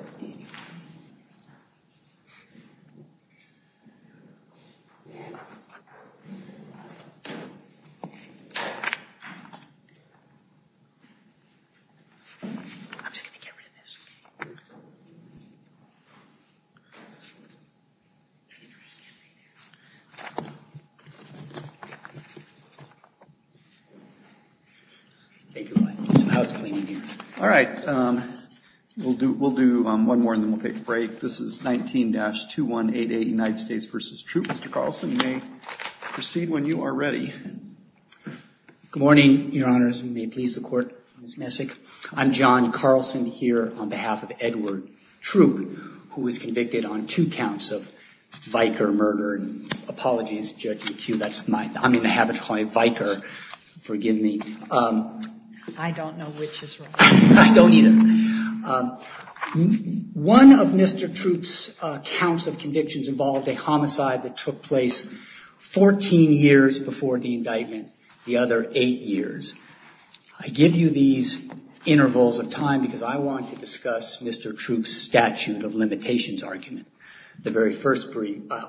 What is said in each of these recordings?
I'm just going to get rid of this. All right. We'll do one more and then we'll take a break. This is 19-2188 United States v. Troup. Mr. Carlson, you may proceed when you are ready. Good morning, Your Honors, and may it please the Court, Ms. Messick. I'm John Carlson here on behalf of Edward Troup, who was convicted on two counts of Vicar murder. Apologies, Judge McHugh, that's my, I'm in the habit of calling it Vicar. Forgive me. I don't know which is right. I don't either. One of Mr. Troup's counts of convictions involved a homicide that took 14 years before the indictment, the other eight years. I give you these intervals of time because I want to discuss Mr. Troup's statute of limitations argument, the very first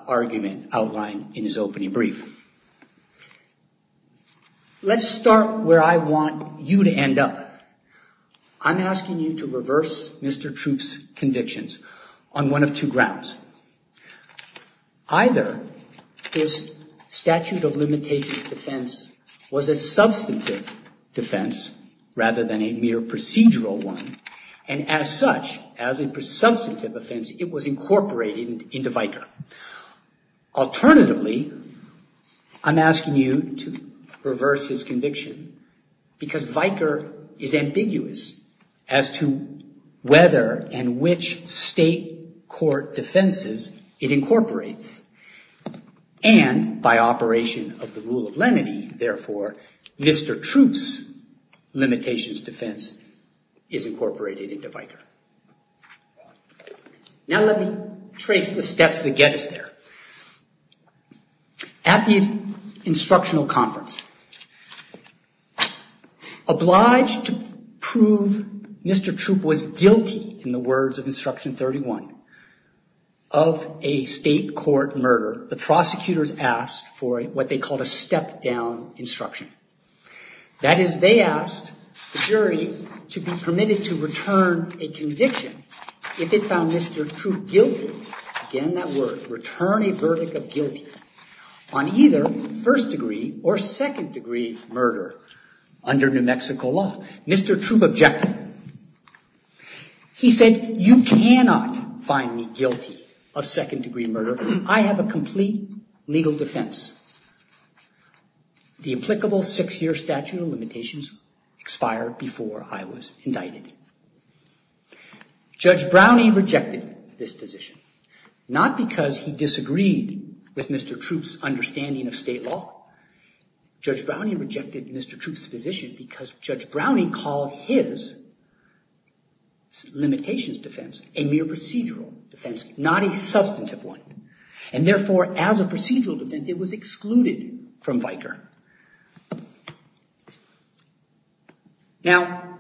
argument outlined in his opening brief. Let's start where I want you to end up. I'm asking you to reverse Mr. Troup's convictions on one of two grounds. Either his statute of limitations defense was a substantive defense rather than a mere procedural one, and as such, as a substantive offense, it was incorporated into Vicar. Alternatively, I'm asking you to reverse his conviction because Vicar is state court defenses, it incorporates, and by operation of the rule of lenity, therefore, Mr. Troup's limitations defense is incorporated into Vicar. Now let me trace the steps that get us there. At the instructional conference, obliged to Article 31 of a state court murder, the prosecutors asked for what they called a step-down instruction. That is, they asked the jury to be permitted to return a conviction if it found Mr. Troup guilty, again that word, return a verdict of guilty on either first degree or second degree murder under New Mexico law. Mr. Troup objected. He said, you cannot find me guilty of second degree murder. I have a complete legal defense. The applicable six year statute of limitations expired before I was indicted. Judge Browning rejected this decision, not because he disagreed with Mr. Troup's understanding of state law. Judge Browning rejected Mr. Troup's position because Judge Browning called his limitations defense a mere procedural defense, not a substantive one, and therefore, as a procedural defense, it was excluded from Vicar. Now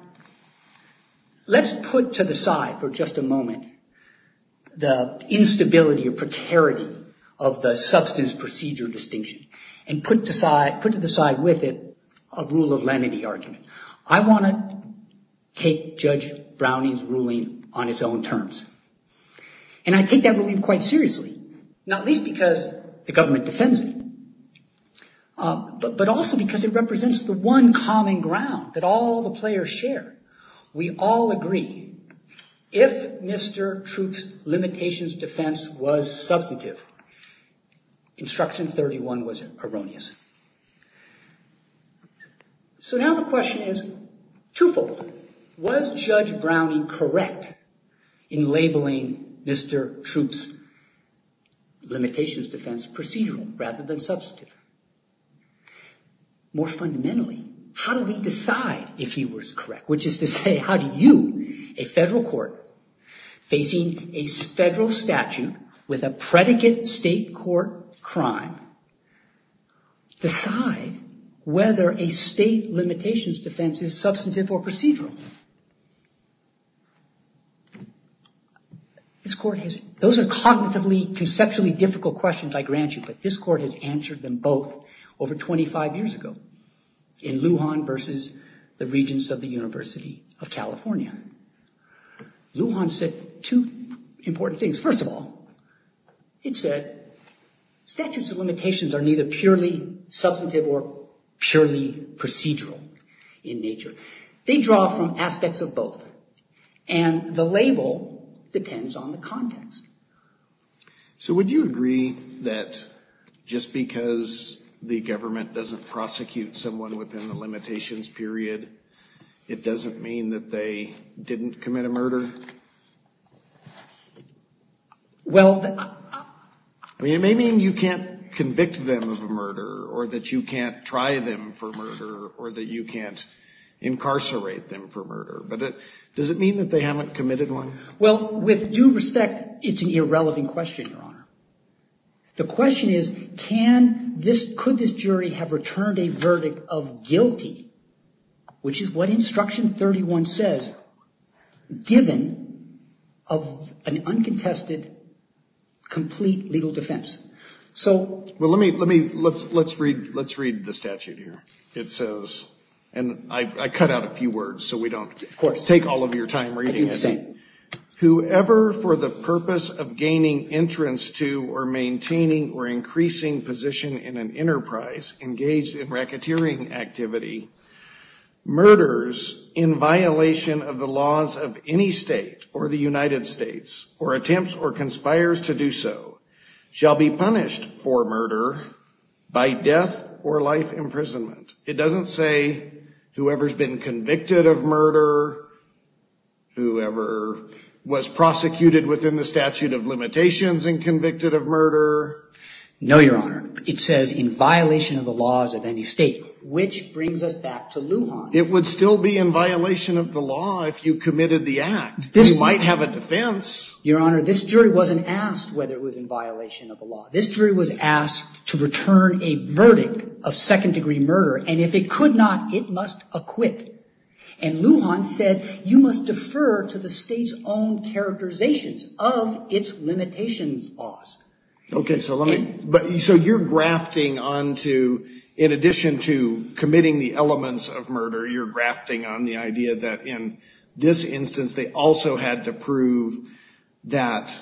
let's put to the side for just a moment the instability or precarity of the substance procedure distinction, and put to the side with it a rule of lenity argument. I want to take Judge Browning's ruling on its own terms, and I take that ruling quite seriously, not least because the government defends it, but also because it represents the one common ground that all the players share. We all agree, if Mr. Troup's limitations defense was substantive, Instruction 31 was erroneous. So now the question is twofold. Was Judge Browning correct in labeling Mr. Troup's limitations defense procedural rather than substantive? More fundamentally, how do we decide if he was correct? Which is to say, how do you, a federal court facing a federal statute with a predicate state court crime, decide whether a state limitations defense is substantive or procedural? Those are cognitively, conceptually difficult questions, I grant you, but this court has answered them both over 25 years ago in Lujan versus the Regents of the University of California. Lujan said two important things. First of all, it said statutes of limitations are neither purely substantive or purely procedural in nature. They draw from aspects of both, and the label depends on the context. So would you agree that just because the government doesn't prosecute someone within the limitations period, it doesn't mean that they didn't commit a murder? Well, I mean, it may mean you can't convict them of a murder, or that you can't try them for murder, or that you can't incarcerate them for murder, but does it mean that they haven't committed one? Well, with due respect, it's an irrelevant question, Your Honor. The question is, can this, could this jury have returned a verdict of guilty, which is what Instruction 31 says, given of an uncontested, complete legal defense? So let me, let me, let's read the statute here. It says, and I cut out a few words so we don't take all of your time reading it, whoever for the purpose of gaining entrance to or maintaining or increasing position in an enterprise engaged in racketeering activity, murders in violation of the laws of any state or the United States, or attempts or conspires to do so, shall be punished for murder by death or life imprisonment. It doesn't say whoever's been convicted of murder, whoever was prosecuted within the statute of limitations and convicted of murder. No, Your Honor. It says in violation of the laws of any state, which brings us back to Lujan. It would still be in violation of the law if you committed the act. You might have a defense. Your Honor, this jury wasn't asked whether it was in violation of the law. This jury was asked to return a verdict of second-degree murder, and if it could not, it must acquit. And Lujan said, you must defer to the state's own characterizations of its limitations laws. Okay, so let me, so you're grafting onto, in addition to committing the elements of murder, you're grafting on the idea that in this instance they also had to prove that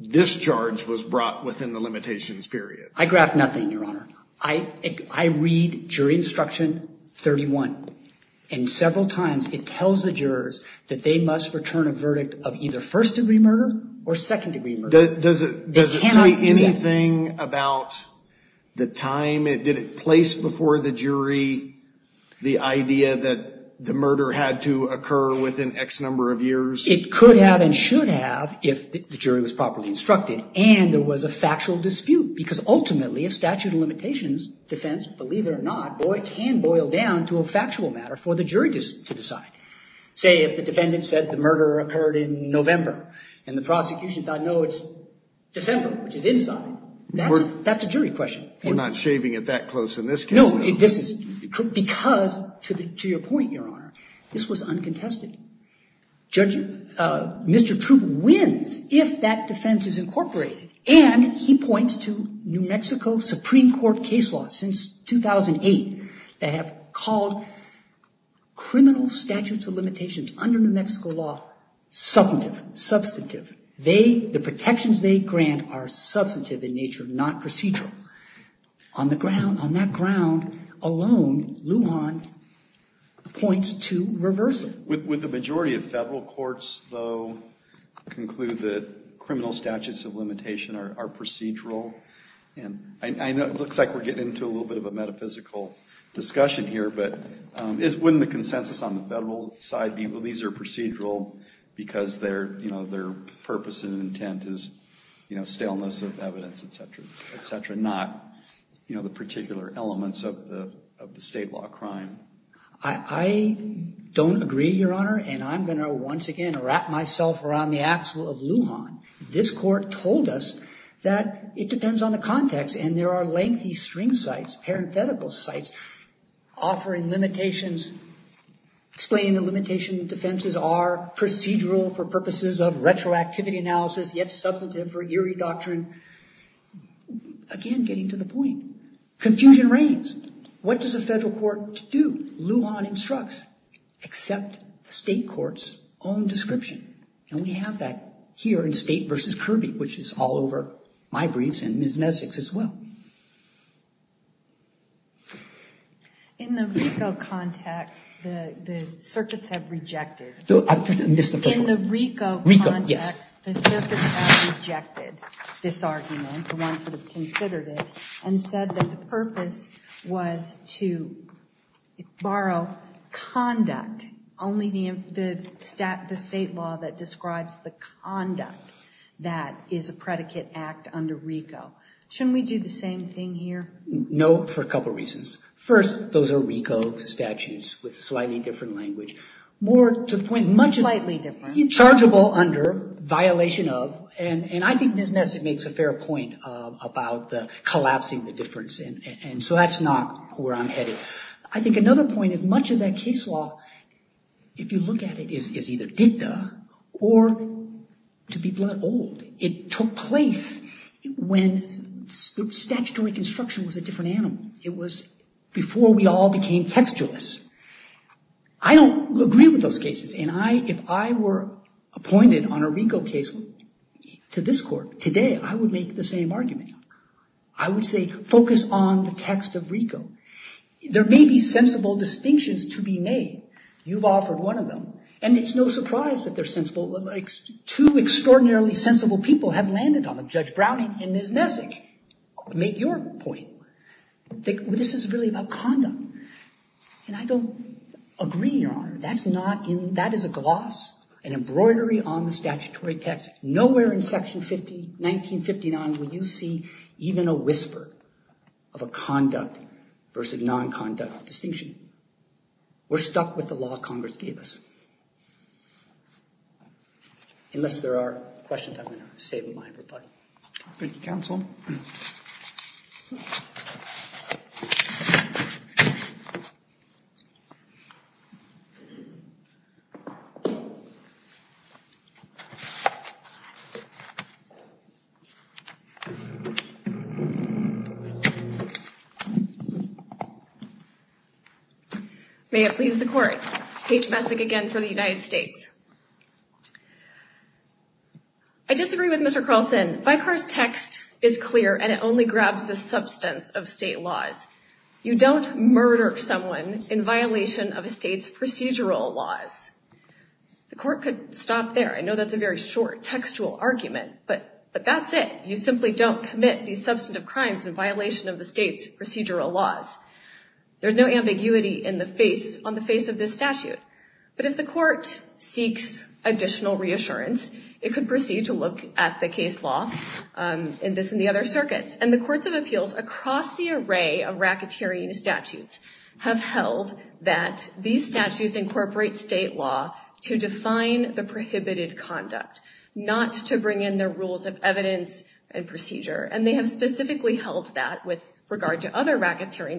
the jury was properly instructed. I graft nothing, Your Honor. I read jury instruction 31, and several times it tells the jurors that they must return a verdict of either first-degree murder or second-degree murder. Does it say anything about the time, did it place before the jury the idea that the murder had to occur within X number of years? It could have and should have if the jury was properly instructed, and there was a factual dispute, because ultimately a statute of limitations defense, believe it or not, can boil down to a factual matter for the jury to decide. Say if the defendant said the murder occurred in November and the prosecution thought, no, it's December, which is inside, that's a jury question. We're not shaving it that close in this case. No, this is, because, to your point, Your Honor, this was uncontested. Mr. Troup wins if that defense is incorporated, and he points to New Mexico Supreme Court case laws since 2008 that have called criminal statutes of limitations under New Mexico law substantive, substantive. They, the protections they grant are substantive in nature, not procedural. On the ground, on that ground alone, Lujan points to reversal. Would the majority of federal courts, though, conclude that criminal statutes of limitation are procedural? And I know it looks like we're getting into a little bit of a metaphysical discussion here, but wouldn't the consensus on the federal side be, well, these are procedural because their purpose and intent is staleness of evidence, et cetera, et cetera, not the particular elements of the state law crime? I don't agree, Your Honor, and I'm going to, once again, wrap myself around the axle of Lujan. This court told us that it depends on the context, and there are lengthy string sites, parenthetical sites, offering limitations, explaining that limitation defenses are procedural for purposes of retroactivity analysis, yet substantive for Erie doctrine. Again, getting to the point, confusion reigns. What does a federal court do? Lujan instructs, accept the state court's own description, and we have that here in State v. Kirby, which is all over my briefs and Ms. Messick's as well. In the RICO context, the circuits have rejected this argument, the ones that have considered it, and said that the purpose was to borrow conduct, only the state law that describes the conduct that is a predicate act under RICO. Shouldn't we do the same thing here? No, for a couple of reasons. First, those are RICO statutes with slightly different language, more to the point, much- Slightly different. Inchargeable under, violation of, and I think Ms. Messick makes a fair point about the collapsing the difference, and so that's not where I'm headed. I think another point is much of that case law, if you look at it, is either dicta or to be blood old. It took place when statutory construction was a different animal. It was before we all became textualists. I don't agree with those cases, and if I were appointed on a RICO case to this court today, I would make the same argument. I would say focus on the text of RICO. There may be sensible distinctions to be made. You've offered one of them, and it's no surprise that two extraordinarily sensible people have landed on them, Judge Browning and Ms. Messick. Make your point. This is really about conduct, and I don't agree, Your Honor. That is a gloss, an embroidery on the statutory text. Nowhere in Section 59 would you see even a whisper of a conduct versus non-conduct distinction. We're stuck with the law Congress gave us. Unless there are questions, I'm going to stay with my reply. Thank you, Counsel. May it please the Court. Paige Messick again for the United States. I disagree with Mr. Carlson. Vicar's text is clear, and it only grabs the substance of state laws. You don't murder someone in violation of a state's procedural laws. The court could stop there. I know that's a very short textual argument, but that's it. You simply don't commit these substantive crimes in violation of the state's procedural laws. There's no ambiguity on the face of this statute. But if the court seeks additional reassurance, it could proceed to look at the case law in this and the other circuits. And the courts of appeals across the array of racketeering statutes have held that these statutes incorporate state law to define the prohibited conduct, not to bring in their rules of evidence and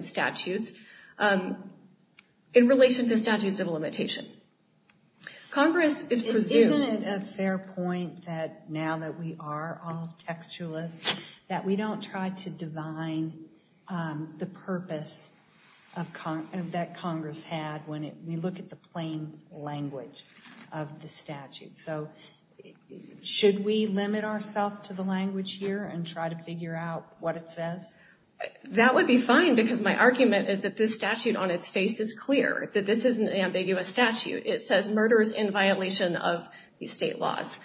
statutes, in relation to statutes of limitation. Congress is presumed— Isn't it a fair point that now that we are all textualists, that we don't try to divine the purpose that Congress had when we look at the plain language of the statute? So should we limit ourselves to the language here and try to figure out what it says? That would be fine, because my argument is that this statute on its face is clear, that this isn't an ambiguous statute. It says, murders in violation of the state laws.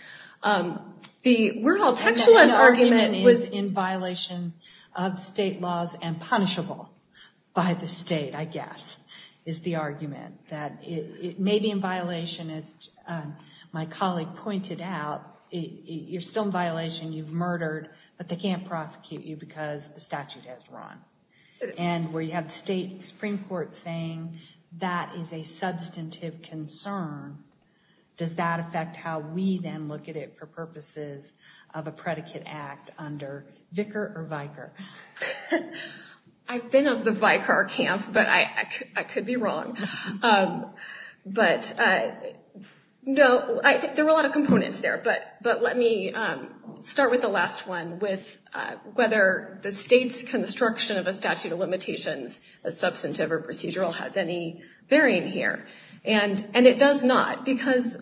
The we're all textualists argument is— And the argument is in violation of state laws and punishable by the state, I guess, is the argument. That it may be in violation, as my colleague pointed out, you're still in violation, you've murdered, but they can't prosecute you because the statute has run. And where you have the state Supreme Court saying that is a substantive concern, does that affect how we then look at it for purposes of a predicate act under Vicar or Vicar? I've been of the Vicar camp, but I could be wrong. But no, I think there were a lot of questions. I'll start with the last one, with whether the state's construction of a statute of limitations, as substantive or procedural, has any bearing here. And it does not, because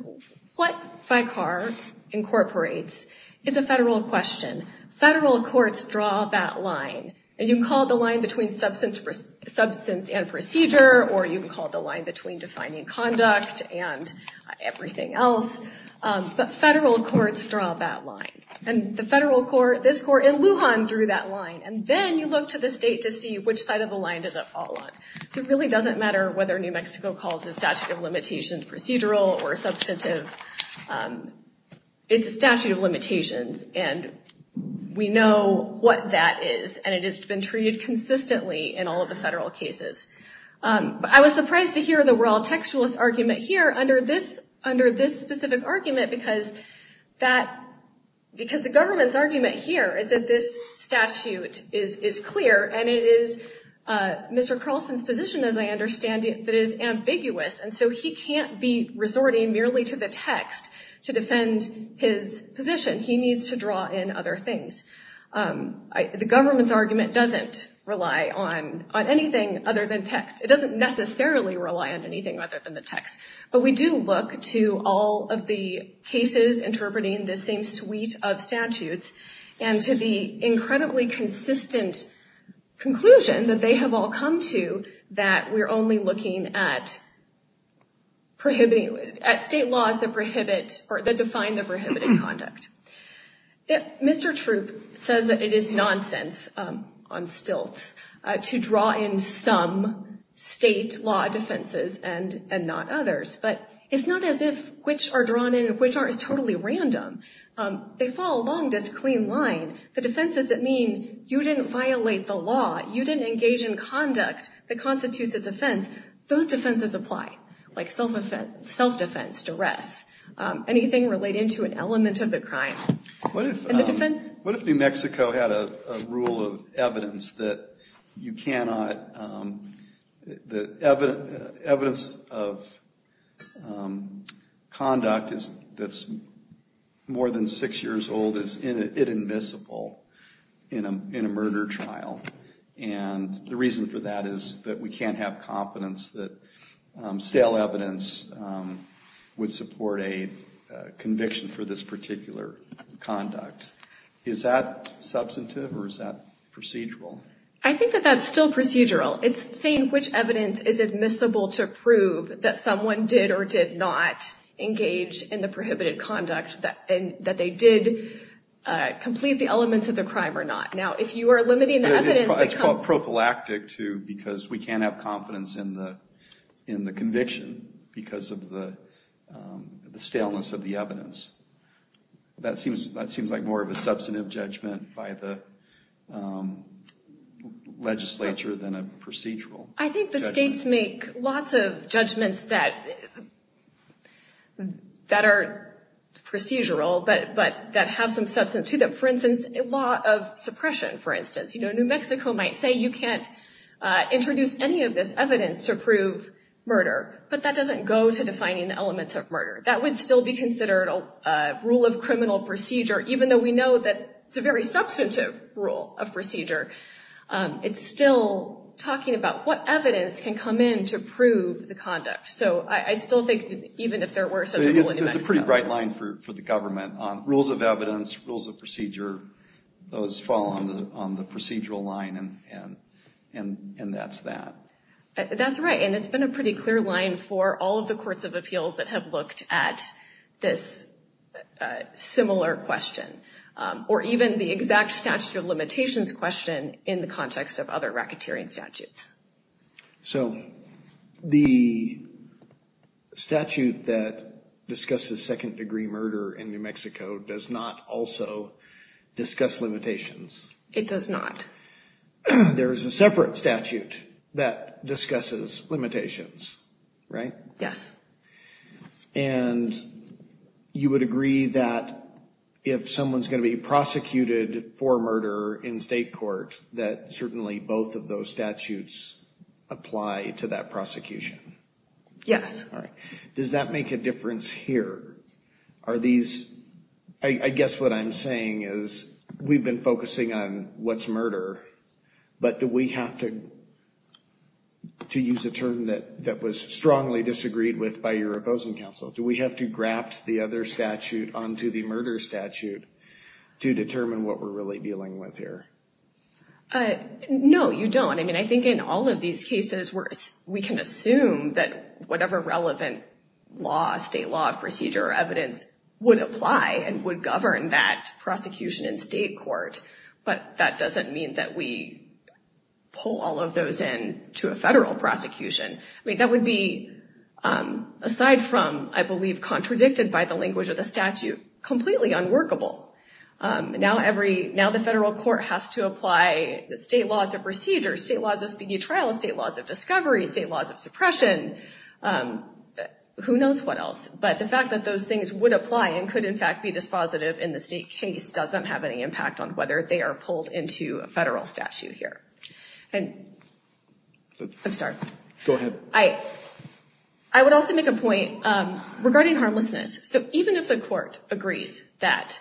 what Vicar incorporates is a federal question. Federal courts draw that line, and you can call it the line between substance and procedure, or you can call it the line between defining conduct and everything else. But federal courts draw that line. And the federal court, this court in Lujan, drew that line. And then you look to the state to see which side of the line does it fall on. So it really doesn't matter whether New Mexico calls the statute of limitations procedural or substantive. It's a statute of limitations, and we know what that is, and it has been treated consistently in all of the federal cases. I was surprised to hear the we're all textualist argument here under this specific argument, because the government's argument here is that this statute is clear, and it is Mr. Carlson's position, as I understand it, that is ambiguous. And so he can't be resorting merely to the text to defend his position. He needs to draw in other things. The government's not relying on anything other than text. It doesn't necessarily rely on anything other than the text. But we do look to all of the cases interpreting the same suite of statutes and to the incredibly consistent conclusion that they have all come to, that we're only looking at state laws that define the prohibited conduct. Mr. Troop says that it is nonsense on stilts to draw in some state law defenses and not others, but it's not as if which are drawn in and which aren't is totally random. They fall along this clean line. The defenses that mean you didn't violate the law, you didn't engage in conduct that constitutes as offense, those defenses apply, like self-defense, duress, anything relating to an element of the crime. What if New Mexico had a rule of evidence that you cannot, evidence of conduct that's more than six years old is inadmissible in a murder trial? And the reason for that is that we can't have confidence that stale evidence would support a conviction for this particular conduct. Is that substantive or is that procedural? I think that that's still procedural. It's saying which evidence is admissible to prove that someone did or did not engage in the prohibited conduct, that they did complete the elements of the crime or not. Now, if you are limiting the evidence that comes... That's prophylactic, too, because we can't have confidence in the conviction because of the staleness of the evidence. That seems like more of a substantive judgment by the legislature than a procedural judgment. I think the states make lots of judgments that are procedural, but that have some substance to them. For instance, a law of suppression, for instance. New Mexico might say you can't introduce any of this evidence to prove murder, but that doesn't go to defining the elements of murder. That would still be considered a rule of criminal procedure, even though we know that it's a very substantive rule of procedure. It's still talking about what evidence can come in to prove the conduct. So I still think that even if there were such a rule in New Mexico... Those fall on the procedural line, and that's that. That's right, and it's been a pretty clear line for all of the courts of appeals that have looked at this similar question, or even the exact statute of limitations question in the context of other racketeering statutes. So, the statute that discusses second-degree murder in New Mexico does not also... Discuss limitations. It does not. There's a separate statute that discusses limitations, right? Yes. And you would agree that if someone's going to be prosecuted for murder in state court, that certainly both of those statutes apply to that prosecution? Yes. Does that make a difference here? Are these... I guess what I'm saying is, we've been focusing on what's murder, but do we have to use a term that was strongly disagreed with by your opposing counsel? Do we have to graft the other statute onto the murder statute to determine what we're really dealing with here? No, you don't. I mean, I think in all of these cases, we can assume that whatever relevant law, state law, procedure, or evidence would apply and would govern that prosecution in state court, but that doesn't mean that we pull all of those into a federal prosecution. I mean, that would be, aside from, I believe, contradicted by the language of the statute, completely unworkable. Now the federal court has to apply state laws of procedure, state laws of speedy trial, state laws of discovery, state laws of suppression, who knows what else? But the fact that those things would apply and could, in fact, be dispositive in the state case doesn't have any impact on whether they are pulled into a federal statute here. I would also make a point regarding harmlessness. So even if the court agrees that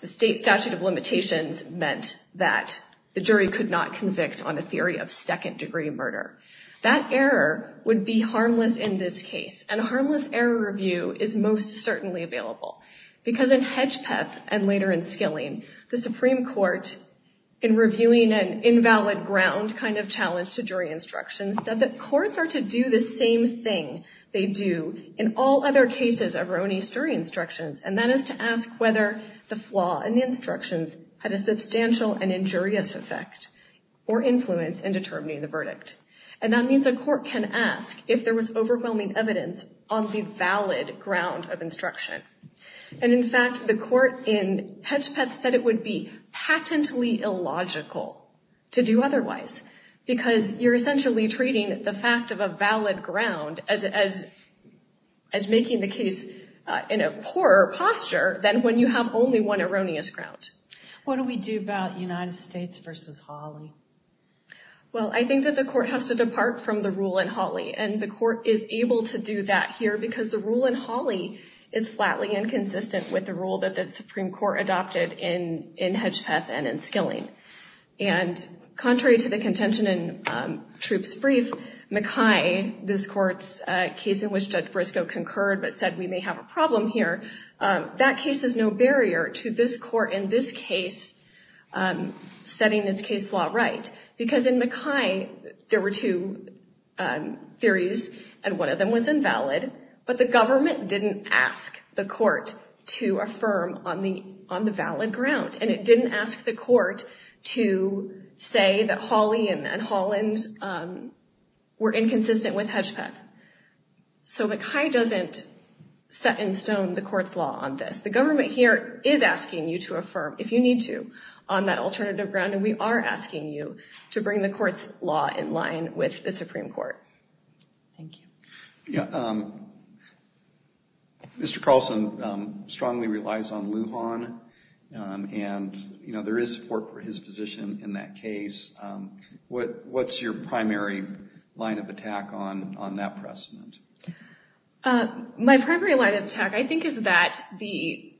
the state statute of limitations meant that the jury could not convict on a theory of second degree murder, that error would be harmless in this case. And a harmless error review is most certainly available, because in Hedgepeth and later in Skilling, the Supreme Court, in reviewing an invalid ground kind of challenge to jury instructions, said that courts are to do the same thing they do in all other cases of Roni's jury instructions, and that is to ask whether the flaw in the instructions had a substantial and injurious effect or influence in determining the verdict. And that means a court can ask if there was overwhelming evidence on the valid ground of instruction. And in fact, the court in Hedgepeth said it would be patently illogical to do otherwise, because you're essentially treating the fact of a valid ground as making the case in a poorer posture than when you have only one erroneous ground. What do we do about United States v. Hawley? Well, I think that the court has to depart from the rule in Hawley, and the court is able to do that here, because the rule in Hawley is flatly inconsistent with the rule that the Supreme Court adopted in Hedgepeth and in Skilling. And contrary to the contention in Troup's brief, Mackay, this court's case in which Judge Briscoe concurred but said we may have a problem here, that case is no barrier to this court in this case setting its case law right. Because in Mackay, there were two theories, and one of them was invalid, but the government didn't ask the court to affirm on the valid ground. And it didn't ask the court to say that Hawley and Holland were inconsistent with Hedgepeth. So Mackay doesn't set in stone the court's law on this. The government here is asking you to affirm, if you need to, on that alternative ground, and we are asking you to bring the court's law in line with the Supreme Court. Thank you. Mr. Carlson strongly relies on Lujan, and there is support for his position in that case. What's your primary line of attack on that precedent? My primary line of attack, I think, is that the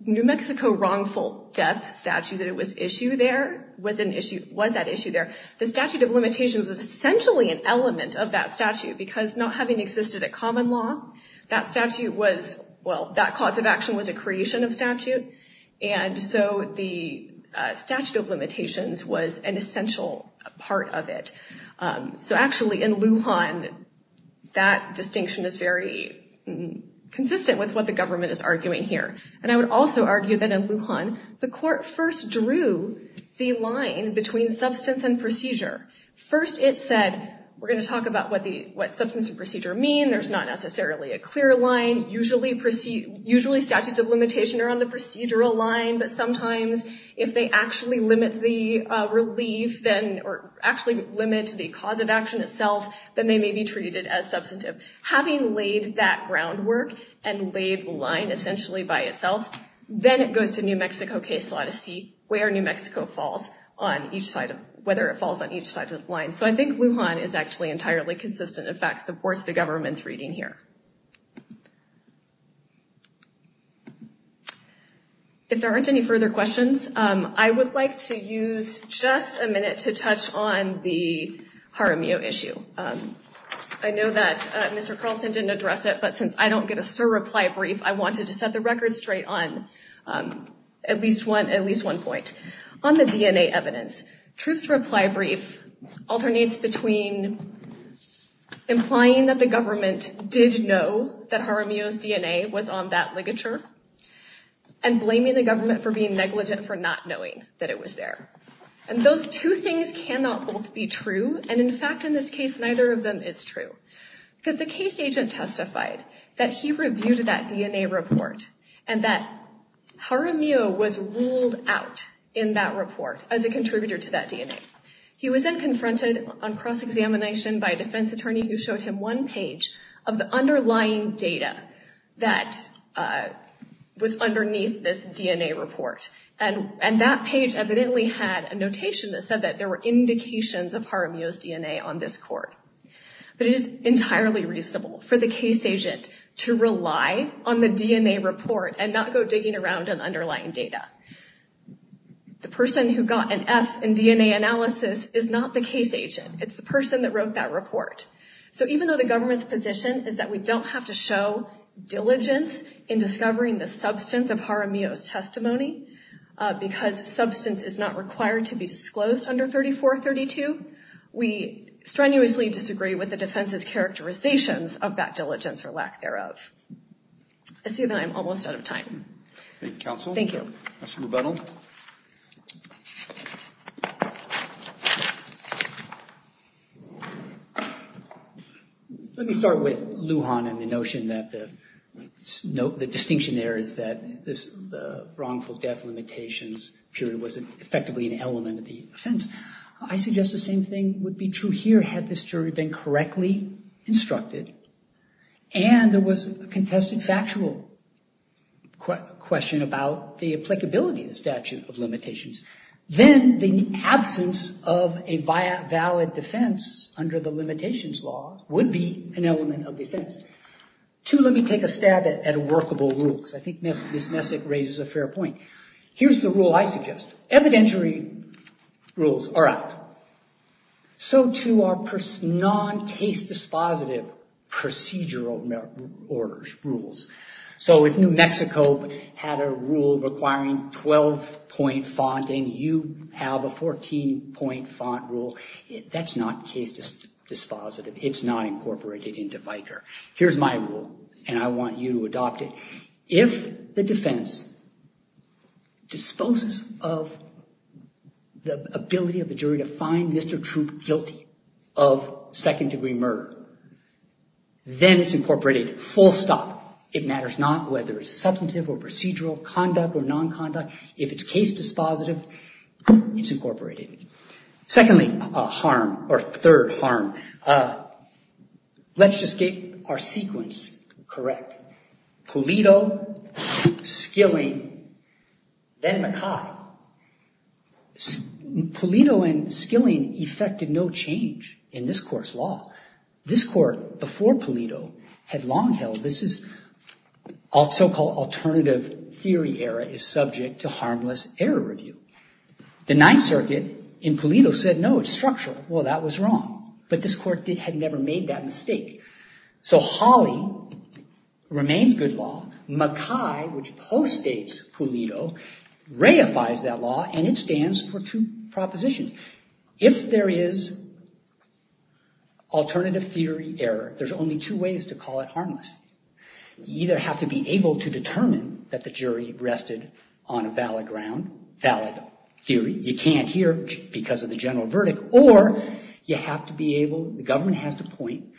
New Mexico wrongful death statute that was at issue there, the statute of limitations was essentially an element of that statute because not having existed at common law, that statute was, well, that cause of action was a creation of statute, and so the statute of limitations was an essential part of it. So actually, in Lujan, that distinction is very consistent with what the government is arguing here. And I would also argue that in Lujan, the court first drew the line between substance and procedure. First it said, we're going to talk about what substance and procedure mean, there's not necessarily a clear line, usually statutes of limitation are on the procedural line, but sometimes if they actually limit the cause of action itself, then they may be treated as substantive. Having laid that groundwork and laid the line essentially by itself, then it goes to New Mexico case law to see where New Mexico falls on each side, whether it falls on each side of the line. So I think Lujan is actually entirely consistent, in fact, supports the government's reading here. If there aren't any further questions, I would like to use just a minute to touch on the Jaramillo issue. I know that Mr. Carlson didn't address it, but since I don't get a Sir reply brief, I wanted to set the record straight on at least one point. On the DNA evidence, Truth's reply brief alternates between implying that the government did know that Jaramillo's DNA was on that ligature, and blaming the government for being negligent for not knowing that it was there. And those two things cannot both be true, and in fact, in this case, neither of them is true. Because the case agent testified that he reviewed that DNA report, and that Jaramillo was ruled out in that report as a contributor to that DNA. He was then confronted on cross-examination by a defense attorney who showed him one page of the underlying data that was underneath this DNA report. And that page evidently had a notation that said that there were indications of Jaramillo's DNA on this court. But it is entirely reasonable for the case agent to rely on the DNA report and not go digging around in the underlying data. The person who got an F in DNA analysis is not the case agent. It's the person that wrote that report. So even though the government's position is that we don't have to show diligence in discovering the substance of Jaramillo's testimony, because substance is not required to be disclosed under 3432, we strenuously disagree with the defense's characterizations of that diligence or lack thereof. I see that I'm almost out of time. Let me start with Lujan and the notion that the distinction there is that the wrongful death limitations period was effectively an element of the offense. I suggest the same thing would be true here had this jury been correctly instructed and there was a contested factual question about the applicability of the statute of limitations. Then the absence of a valid defense under the limitations law would be an element of defense. Two, let me take a stab at workable rules. I think Ms. Messick raises a fair point. Here's the rule I suggest. Evidentiary rules are out. So too are non-case dispositive procedural rules. So if New Mexico had a rule requiring 12-point font and you have a 14-point font rule, that's not case dispositive. It's not incorporated into VIKR. Here's my rule, and I want you to adopt it. If the defense disposes of the ability of the jury to find Mr. Troop guilty of second-degree murder, then it's incorporated, full stop. It matters not whether it's substantive or procedural, conduct or non-conduct. If it's case dispositive, it's incorporated. Secondly, harm, or third harm, let's just get our sequence correct. Pulido, Skilling, then Mackay. Pulido and Skilling effected no change in this court's law. This court, before Pulido, had long held this is, so-called alternative theory error is subject to harmless error review. The Ninth Circuit in Pulido said, no, it's structural. Well, that was wrong. But this court had never made that mistake. So Hawley remains good law. Mackay, which postdates Pulido, reifies that law, and it stands for two propositions. If there is alternative theory error, there's only two ways to call it harmless. You either have to be able to determine that the jury rested on a valid ground, valid theory, you can't hear because of the general verdict, or you have to be able, the government has to point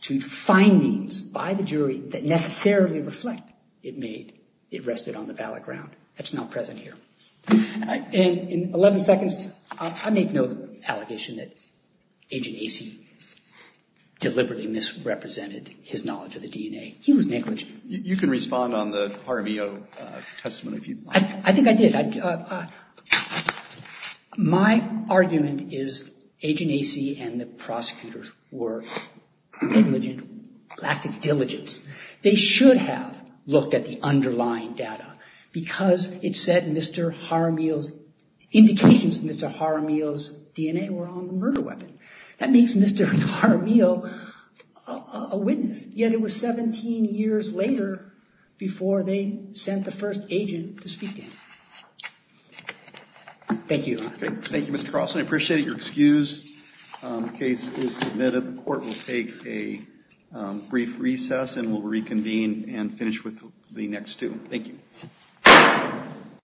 to findings by the jury that necessarily reflect it may have rested on the valid ground. That's not present here. In 11 seconds, I make no allegation that Agent Acey deliberately misrepresented his knowledge of the DNA. He was negligent. You can respond on the Jaramillo testimony if you'd like. I think I did. My argument is Agent Acey and the prosecutors were negligent, lack of diligence. They should have looked at the underlying data, because it said Mr. Jaramillo's, indications of Mr. Jaramillo's DNA were on the murder weapon. That makes Mr. Jaramillo a witness, yet it was 17 years later before they sent the first agent to speak in. Thank you. Thank you, Mr. Carlson. I appreciate your excuse. The case is submitted. The court will take a brief recess and we'll reconvene and finish with the next two. Thank you.